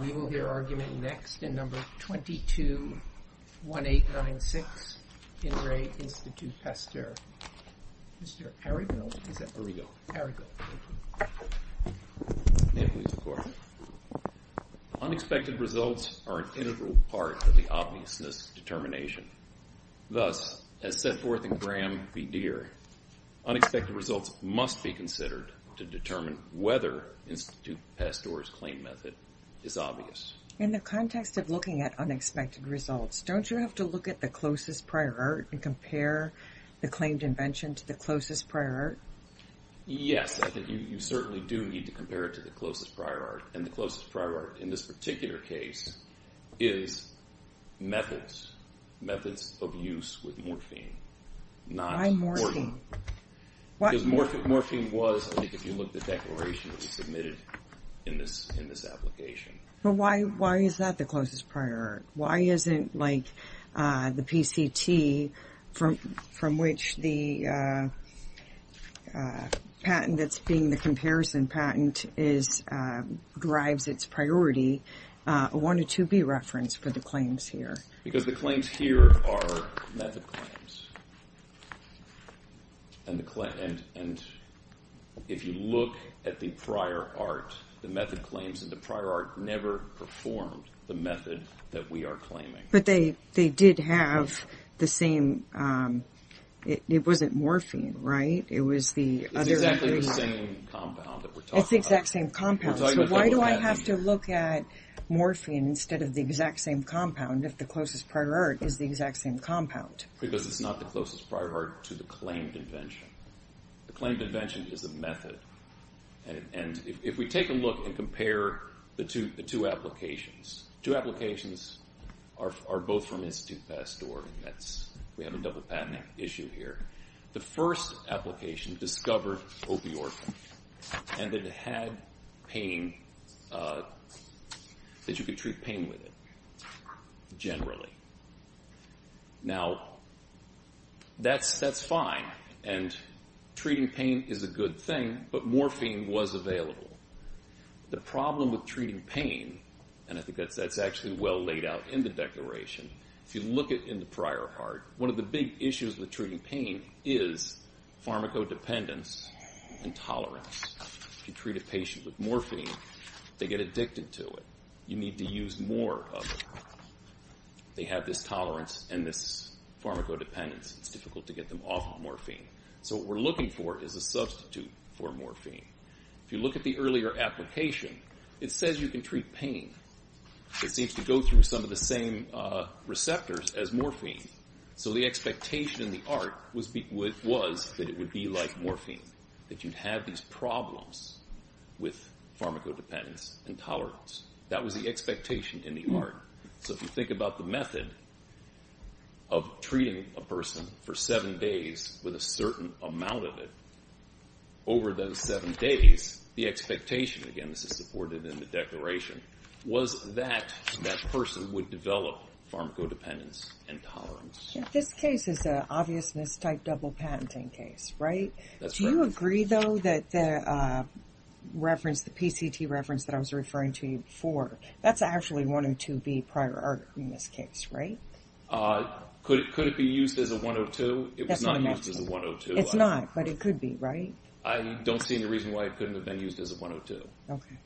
We will hear argument next in number 221896, In Re Institut Pasteur. Mr. Arrigo? Is that Arrigo? Arrigo. Thank you. May it please the Court. Unexpected results are an integral part of the obviousness determination. Thus, as set forth in Graham v. Deere, unexpected results must be considered to determine whether Re Institut Pasteur's claim method is obvious. In the context of looking at unexpected results, don't you have to look at the closest prior art and compare the claimed invention to the closest prior art? Yes. I think you certainly do need to compare it to the closest prior art, and the closest prior art in this particular case is methods, methods of use with morphine. Why morphine? Because morphine was, I think, if you look at the declaration that was submitted in this application. But why is that the closest prior art? Why isn't, like, the PCT, from which the patent that's being the comparison patent drives its priority, a 102B reference for the claims here? Because the claims here are method claims, and if you look at the prior art, the method claims in the prior art never performed the method that we are claiming. But they did have the same, it wasn't morphine, right? It was the other... It's exactly the same compound that we're talking about. It's the exact same compound. So why do I have to look at morphine instead of the exact same compound? If the closest prior art is the exact same compound? Because it's not the closest prior art to the claimed invention. The claimed invention is a method. And if we take a look and compare the two applications, two applications are both from Institute Pasteur, and that's, we have a double patenting issue here. The first application discovered opioids, and it had pain, that you could treat pain with it, generally. Now that's fine, and treating pain is a good thing, but morphine was available. The problem with treating pain, and I think that's actually well laid out in the declaration, if you look at in the prior art, one of the big issues with treating pain is pharmacodependence and tolerance. If you treat a patient with morphine, they get addicted to it. You need to use more of it. They have this tolerance and this pharmacodependence, it's difficult to get them off of morphine. So what we're looking for is a substitute for morphine. If you look at the earlier application, it says you can treat pain. It seems to go through some of the same receptors as morphine. So the expectation in the art was that it would be like morphine, that you'd have these problems with pharmacodependence and tolerance. That was the expectation in the art. So if you think about the method of treating a person for seven days with a certain amount of it, over those seven days, the expectation, again this is supported in the declaration, was that that person would develop pharmacodependence and tolerance. This case is an obvious mis-type double patenting case, right? Do you agree though that the reference, the PCT reference that I was referring to before, that's actually 102B prior art in this case, right? Could it be used as a 102? It was not used as a 102. It's not, but it could be, right? I don't see any reason why it couldn't have been used as a 102. Okay.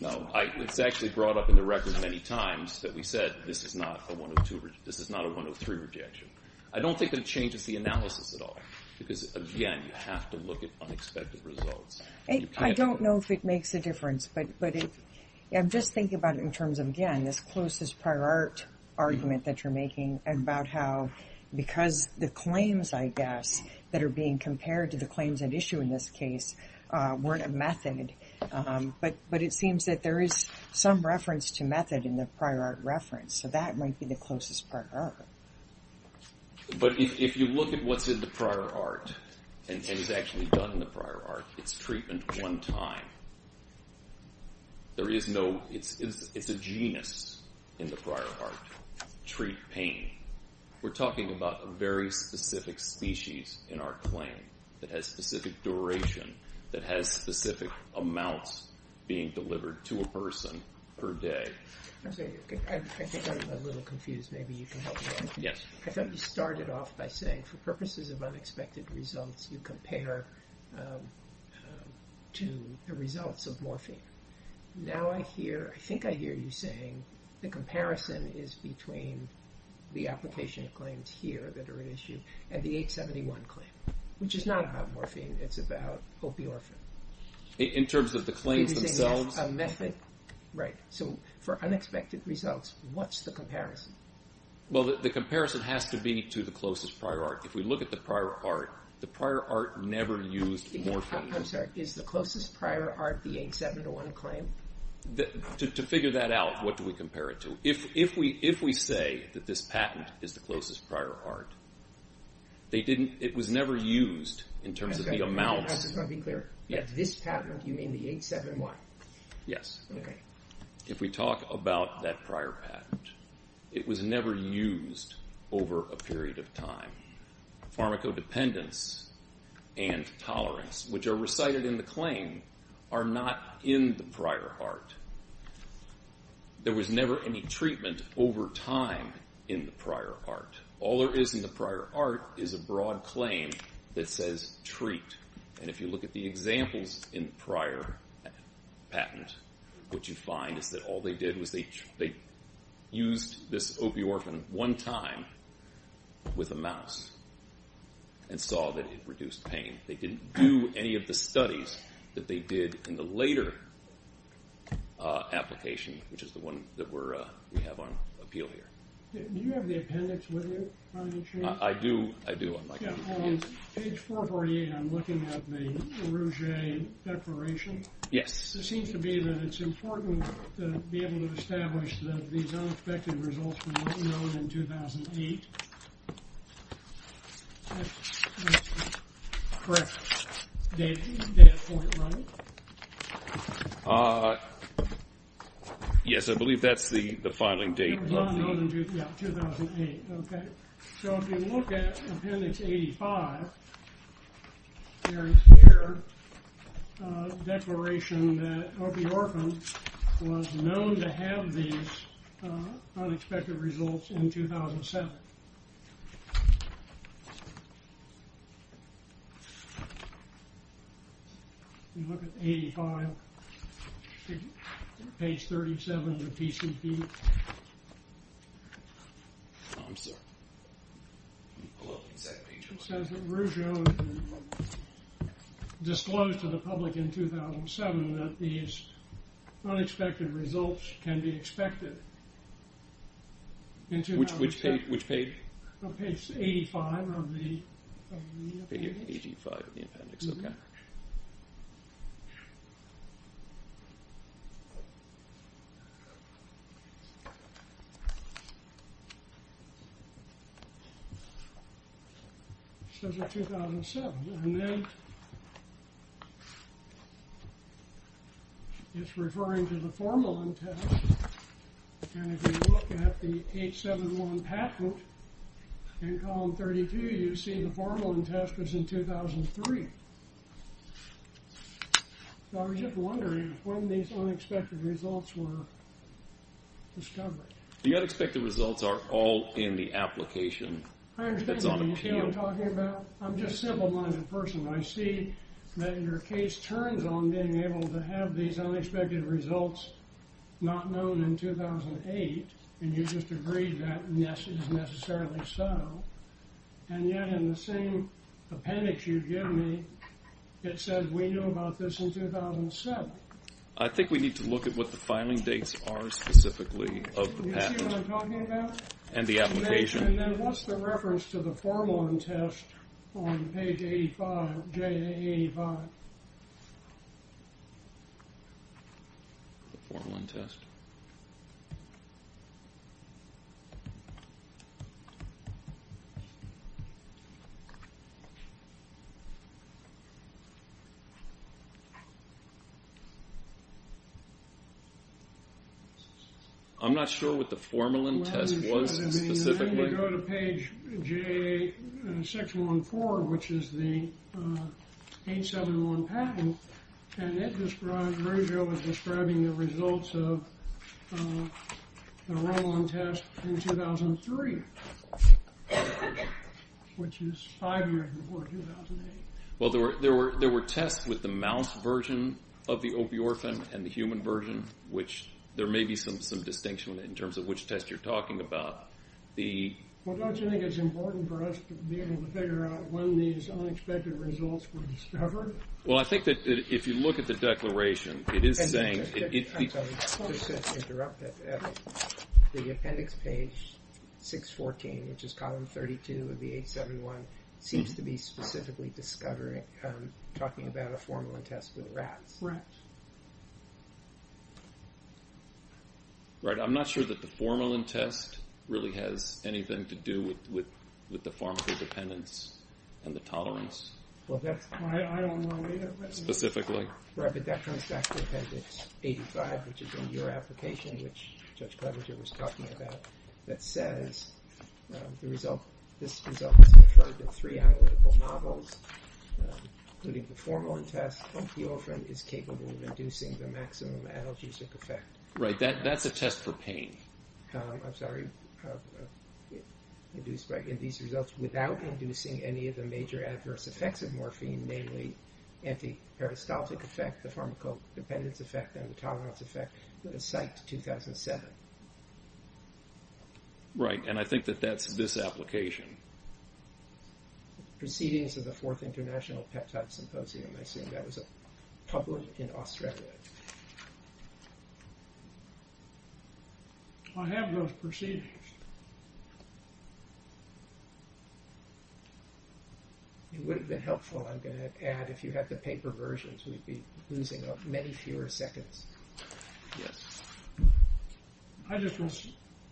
No, it's actually brought up in the record many times that we said this is not a 103 rejection. I don't think it changes the analysis at all. Because again, you have to look at unexpected results. I don't know if it makes a difference, but I'm just thinking about it in terms of, again, this closest prior art argument that you're making about how, because the claims, I guess, that are being compared to the claims at issue in this case weren't a method, but it seems that there is some reference to method in the prior art reference. So that might be the closest prior art. But if you look at what's in the prior art, and is actually done in the prior art, it's treatment one time. There is no, it's a genus in the prior art, treat pain. We're talking about a very specific species in our claim that has specific duration, that has specific amounts being delivered to a person per day. I'm sorry, I think I'm a little confused. Maybe you can help me out. Yes. I thought you started off by saying for purposes of unexpected results, you compare to the results of morphine. Now I hear, I think I hear you saying the comparison is between the application of claims here that are at issue and the 871 claim, which is not about morphine. It's about opiorphine. In terms of the claims themselves? A method, right. So for unexpected results, what's the comparison? Well, the comparison has to be to the closest prior art. I'm sorry, is the closest prior art the 871 claim? To figure that out, what do we compare it to? If we say that this patent is the closest prior art, they didn't, it was never used in terms of the amount. I just want to be clear, this patent, you mean the 871? Yes. If we talk about that prior patent, it was never used over a period of time. Pharmacodependence and tolerance, which are recited in the claim, are not in the prior art. There was never any treatment over time in the prior art. All there is in the prior art is a broad claim that says treat. And if you look at the examples in the prior patent, what you find is that all they did was they used this opiorphan one time with a mouse and saw that it reduced pain. They didn't do any of the studies that they did in the later application, which is the one that we have on appeal here. Do you have the appendix with you on the change? I do, I do. Page 448, I'm looking at the Rouge Declaration. Yes. It seems to me that it's important to be able to establish that these unexpected results were not known in 2008. Correct. Data point, right? Yes, I believe that's the filing date. They were not known in 2008, okay. So if you look at appendix 85, there is here a declaration that opiorphan was known to have these unexpected results in 2007. You look at 85, page 37 of the PCP. I'm sorry. It says that Rougeau disclosed to the public in 2007 that these unexpected results can be expected in 2007. Which page? Page 85 of the appendix. Page 85 of the appendix, okay. It says they're 2007, and then it's referring to the formalin test, and if you look at the 871 patent in column 32, you see the formalin test was in 2003. So I was just wondering when these unexpected results were discovered. The unexpected results are all in the application. I understand what you're talking about. I'm just simple-minded person. I see that your case turns on being able to have these unexpected results not known in 2008, and you just agreed that yes, it is necessarily so, and yet in the same appendix you give me, it says we knew about this in 2007. I think we need to look at what the filing dates are specifically of the patent and the application. And then what's the reference to the formalin test on page 85, J85? The formalin test. I'm not sure what the formalin test was specifically. Go to page J, section 1-4, which is the 871 patent, and it describes, Virgil is describing the results of the formalin test in 2003, which is five years before 2008. Well, there were tests with the mouse version of the opiorphan and the human version, which there may be some distinction in terms of which test you're talking about. Well, don't you think it's important for us to be able to figure out when these unexpected results were discovered? Well, I think that if you look at the declaration, it is saying... I'm sorry, just to interrupt, the appendix page 614, which is column 32 of the 871, seems to be specifically talking about a formalin test with rats. Right. I'm not sure that the formalin test really has anything to do with the pharmacodependence and the tolerance. Well, I don't know either. Specifically? Right, but that comes back to appendix 85, which is in your application, which Judge Right, and I think that that's this application. Proceedings of the Fourth International Peptide Symposium. I assume that was published in Australia. I have those proceedings. It would have been helpful, I'm going to add, if you had the paper versions, we'd be losing many fewer seconds. I just was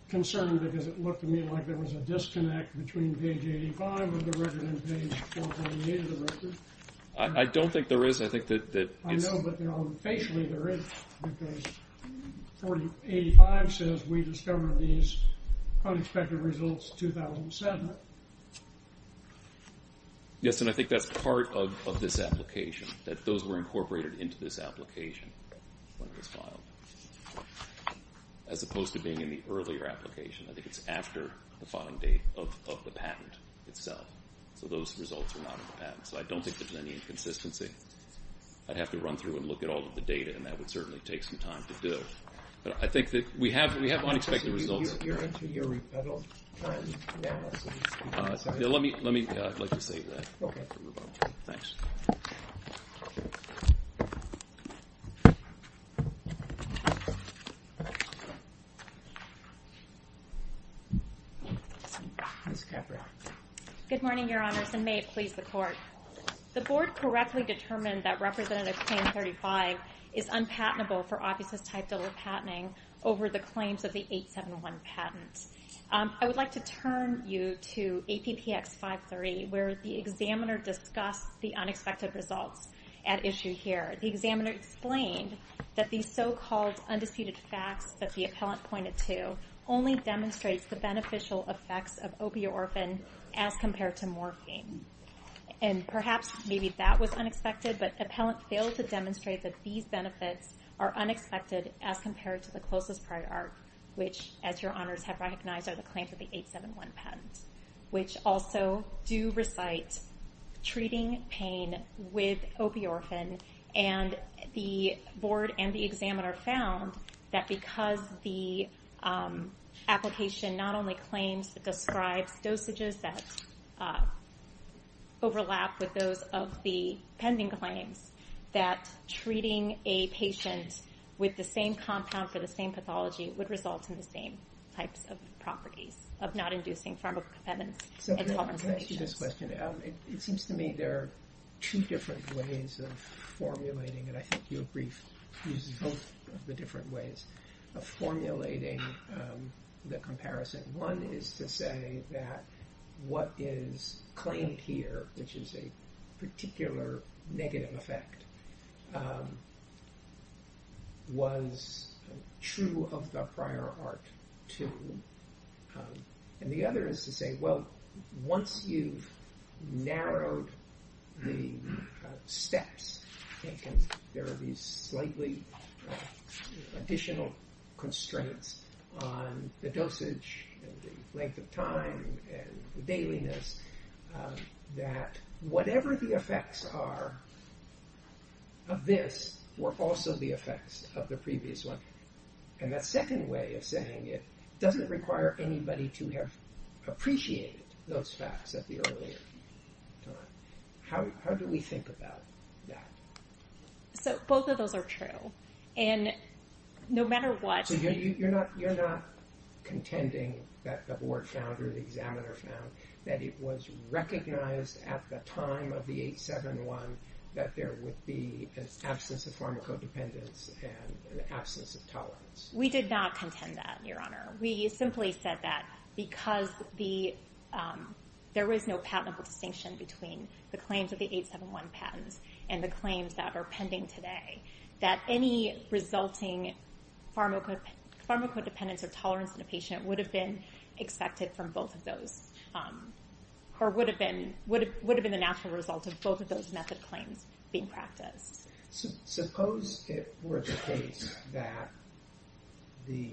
concerned because it looked to me like there was a disconnect between page 485 and the record and page 408 of the record. I don't think there is. I think that... I know, but facially there is, because 4085 says we discovered these unexpected results 2007. Yes, and I think that's part of this application, that those were incorporated into this application when it was filed, as opposed to being in the earlier application. I think it's after the filing date of the patent itself. So those results are not in the patent. So I don't think there's any inconsistency. I'd have to run through and look at all of the data, and that would certainly take some time to do. But I think that we have unexpected results. You're into your rebuttal time now? Let me, I'd like to save that for rebuttal. Thanks. Ms. Capra. Good morning, Your Honors, and may it please the Court. The Board correctly determined that Representative Claim 35 is unpatentable for offices-type double patenting over the claims of the 871 patent. I would like to turn you to APPX 530, where the examiner discussed the unexpected results at issue here. The examiner explained that these so-called undisputed facts that the appellant pointed to only demonstrates the beneficial effects of opioid orphan as compared to morphine. And perhaps maybe that was unexpected, but appellant failed to demonstrate that these benefits are unexpected as compared to the closest prior art, which, as Your Honors have recognized, are the claims of the 871 patent, which also do recite treating pain with opioid morphine. And the Board and the examiner found that because the application not only claims, describes dosages that overlap with those of the pending claims, that treating a patient with the same compound for the same pathology would result in the same types of properties of not inducing pharmacokinetic intolerance. So to answer this question, it seems to me there are two different ways of formulating and I think your brief uses both of the different ways of formulating the comparison. One is to say that what is claimed here, which is a particular negative effect, was true of the prior art, too. And the other is to say, well, once you've narrowed the steps, there are these slightly additional constraints on the dosage and the length of time and the dailiness, that whatever the effects are of this were also the effects of the previous one. And that second way of saying it doesn't require anybody to have appreciated those facts at the earlier time. How do we think about that? So both of those are true. And no matter what... So you're not contending that the Board found or the examiner found that it was recognized at the time of the 871 that there would be an absence of pharmacodependence and an absence of tolerance? We did not contend that, Your Honor. We simply said that because there was no patentable distinction between the claims of the 871 patents and the claims that are pending today, that any resulting pharmacodependence or tolerance in a patient would have been expected from both of those or would have been the natural result of both of those method claims being practiced. Suppose it were the case that the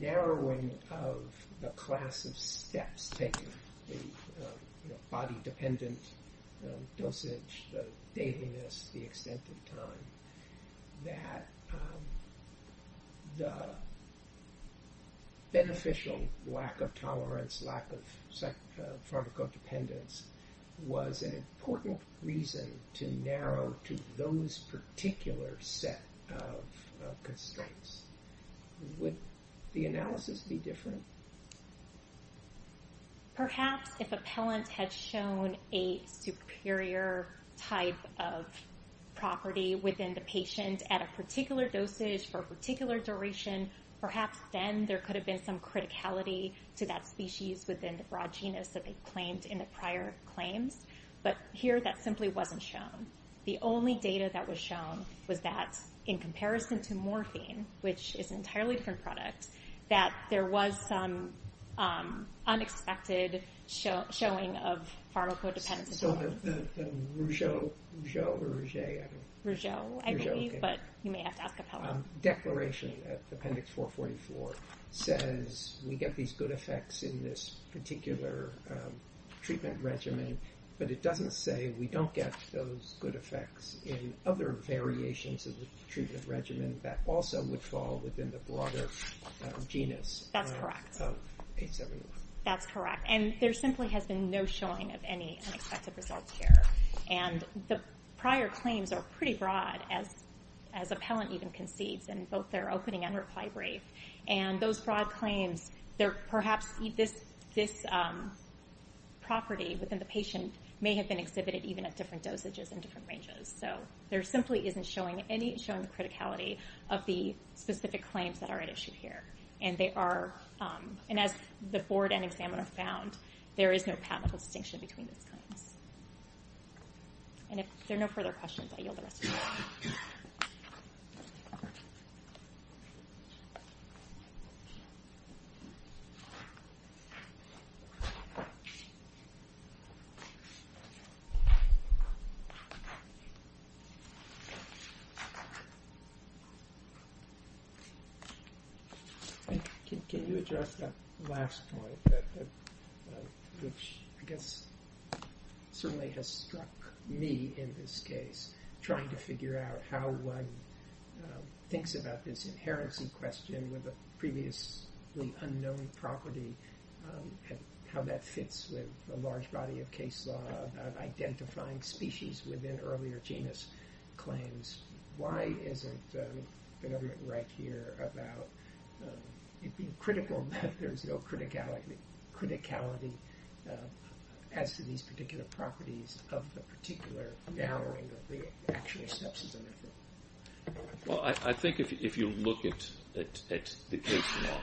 narrowing of the class of steps taken, the body-dependent dosage, the dailiness, the extent of time, that the beneficial lack of tolerance, lack of pharmacodependence was an important reason to narrow to those particular set of constraints. Would the analysis be different? Perhaps if a pellant had shown a superior type of property within the patient at a particular dosage for a particular duration, perhaps then there could have been some criticality to that species within the broad genus that they claimed in the prior claims. But here, that simply wasn't shown. The only data that was shown was that in comparison to morphine, which is an entirely different product, that there was some unexpected showing of pharmacodependence. So the Rougeau, Rougeau or Rougeau? Rougeau, I believe, but you may have to ask a pellant. Declaration at Appendix 444 says we get these good effects in this particular treatment regimen, but it doesn't say we don't get those good effects in other variations of the treatment regimen that also would fall within the broader genus. That's correct. That's correct. And there simply has been no showing of any unexpected results here. And the prior claims are pretty broad, as a pellant even concedes in both their opening and reply brief. And those broad claims, perhaps this property within the patient may have been exhibited even at different dosages and different ranges. So there simply isn't any showing of criticality of the specific claims that are at issue here. And as the board and examiner found, there is no pathological distinction between these claims. And if there are no further questions, I yield the rest of the time. Thank you. Can you address that last point, which I guess certainly has struck me in this case, trying to figure out how one thinks about this inherency question with a previously unknown property and how that fits with a large body of case law about identifying species within earlier genus claims? Why isn't it evident right here about being critical that there's no criticality as to these particular properties of the particular narrowing of the actual acceptance of the method? Well, I think if you look at the case law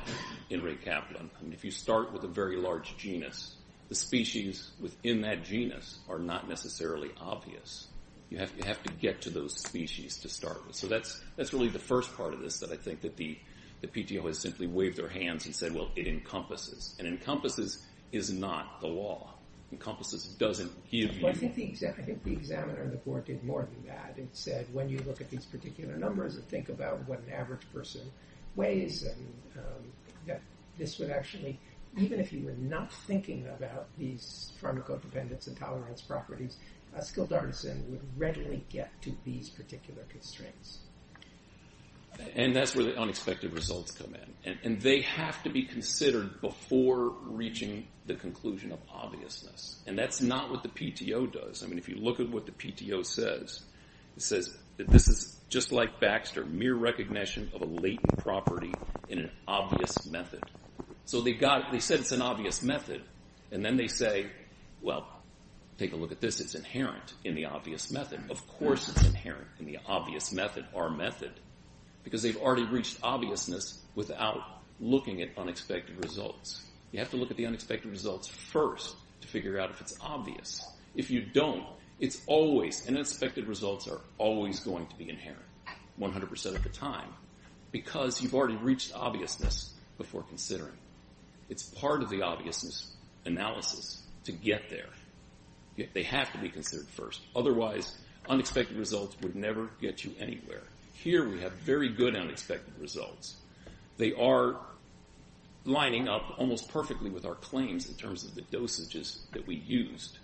in Ray Kaplan, if you start with a very large genus, the species within that genus are not necessarily obvious. You have to get to those species to start with. So that's really the first part of this that I think that the PTO has simply waved their hands and said, well, it encompasses. And encompasses is not the law. Encompasses doesn't give you the law. I think the examiner in the court did more than that. It said, when you look at these particular numbers and think about what an average person weighs and that this would actually, even if you were not thinking about these pharmacode dependence and tolerance properties, a skilled artisan would readily get to these particular constraints. And that's where the unexpected results come in. And they have to be considered before reaching the conclusion of obviousness. And that's not what the PTO does. I mean, if you look at what the PTO says, it says that this is just like Baxter, mere recognition of a latent property in an obvious method. So they said it's an obvious method. And then they say, well, take a look at this. It's inherent in the obvious method. Of course it's inherent in the obvious method, our method, because they've already reached obviousness without looking at unexpected results. You have to look at the unexpected results first to figure out if it's obvious. If you don't, it's always, unexpected results are always going to be inherent, 100% of the time, because you've already reached obviousness before considering. It's part of the obviousness analysis to get there. They have to be considered first. Otherwise, unexpected results would never get you anywhere. Here we have very good unexpected results. They are lining up almost perfectly with our claims in terms of the dosages that we used.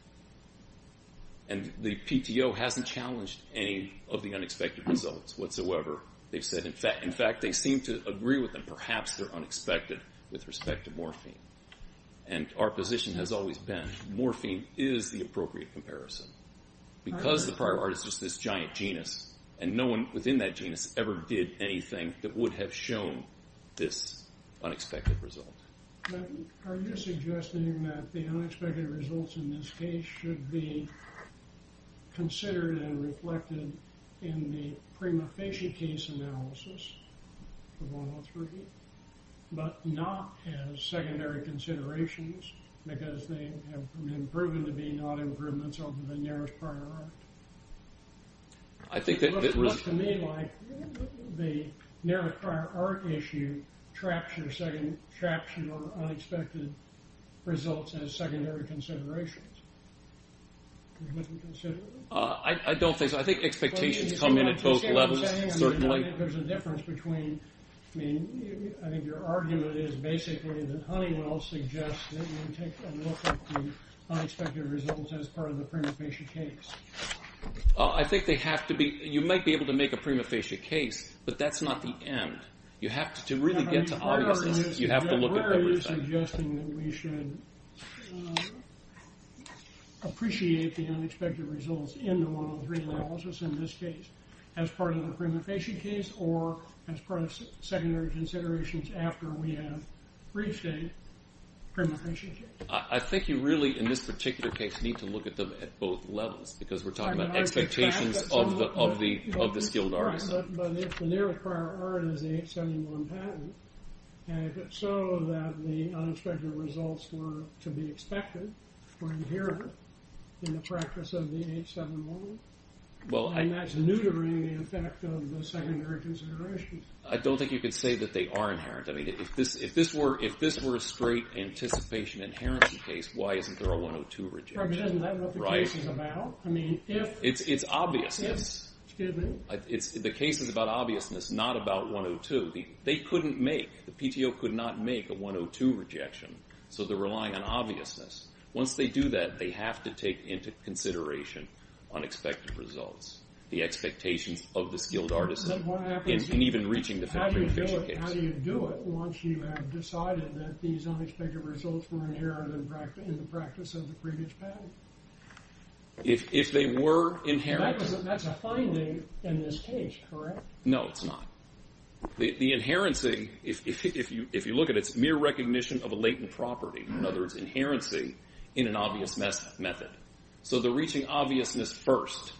And the PTO hasn't challenged any of the unexpected results whatsoever. They've said, in fact, they seem to agree with them. Perhaps they're unexpected with respect to morphine. And our position has always been, morphine is the appropriate comparison. Because the prior art is just this giant genus, and no one within that genus ever did anything that would have shown this unexpected result. But are you suggesting that the unexpected results in this case should be considered and reflected in the prima facie case analysis of 103, but not as secondary considerations, because they have been proven to be non-improvements of the nearest prior art? It looks to me like the nearest prior art issue traps your second, traps your unexpected results as secondary considerations. I don't think so. I think expectations come in at both levels, certainly. There's a difference between, I mean, I think your argument is basically that Honeywell suggests that you take a look at the unexpected results as part of the prima facie case. I think they have to be, you might be able to make a prima facie case, but that's not the end. You have to really get to obviousness. You have to look at everything. Are you suggesting that we should appreciate the unexpected results in the 103 analysis, in this case, as part of the prima facie case, or as part of secondary considerations after we have reached a prima facie case? I think you really, in this particular case, need to look at them at both levels, because we're talking about expectations of the skilled artist. But if the nearest prior art is the 871 patent, and if it's so that the unexpected results were to be expected, were inherent in the practice of the 871, well, that's neutering the effect of the secondary considerations. I don't think you could say that they are inherent. I mean, if this were a straight anticipation inherency case, why isn't there a 102 rejection? Isn't that what the case is about? It's obviousness. The case is about obviousness, not about 102. They couldn't make, the PTO could not make a 102 rejection, so they're relying on obviousness. Once they do that, they have to take into consideration unexpected results, the expectations of the skilled artist, and even reaching the factory official case. How do you do it once you have decided that these unexpected results were inherent in the practice of the previous patent? If they were inherent... That's a finding in this case, correct? No, it's not. The inherency, if you look at it, it's mere recognition of a latent property. In other words, inherency in an obvious method. So they're reaching obviousness first,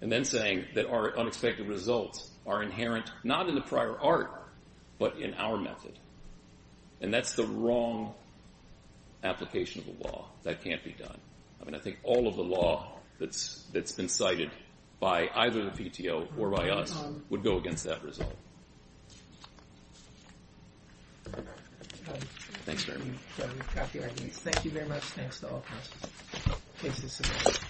and then saying that our unexpected results are inherent, not in the prior art, but in our method. And that's the wrong application of the law. That can't be done. I mean, I think all of the law that's been cited by either the PTO or by us would go against that result. Thanks very much. Thank you very much. Thanks to all of us. The case is submitted.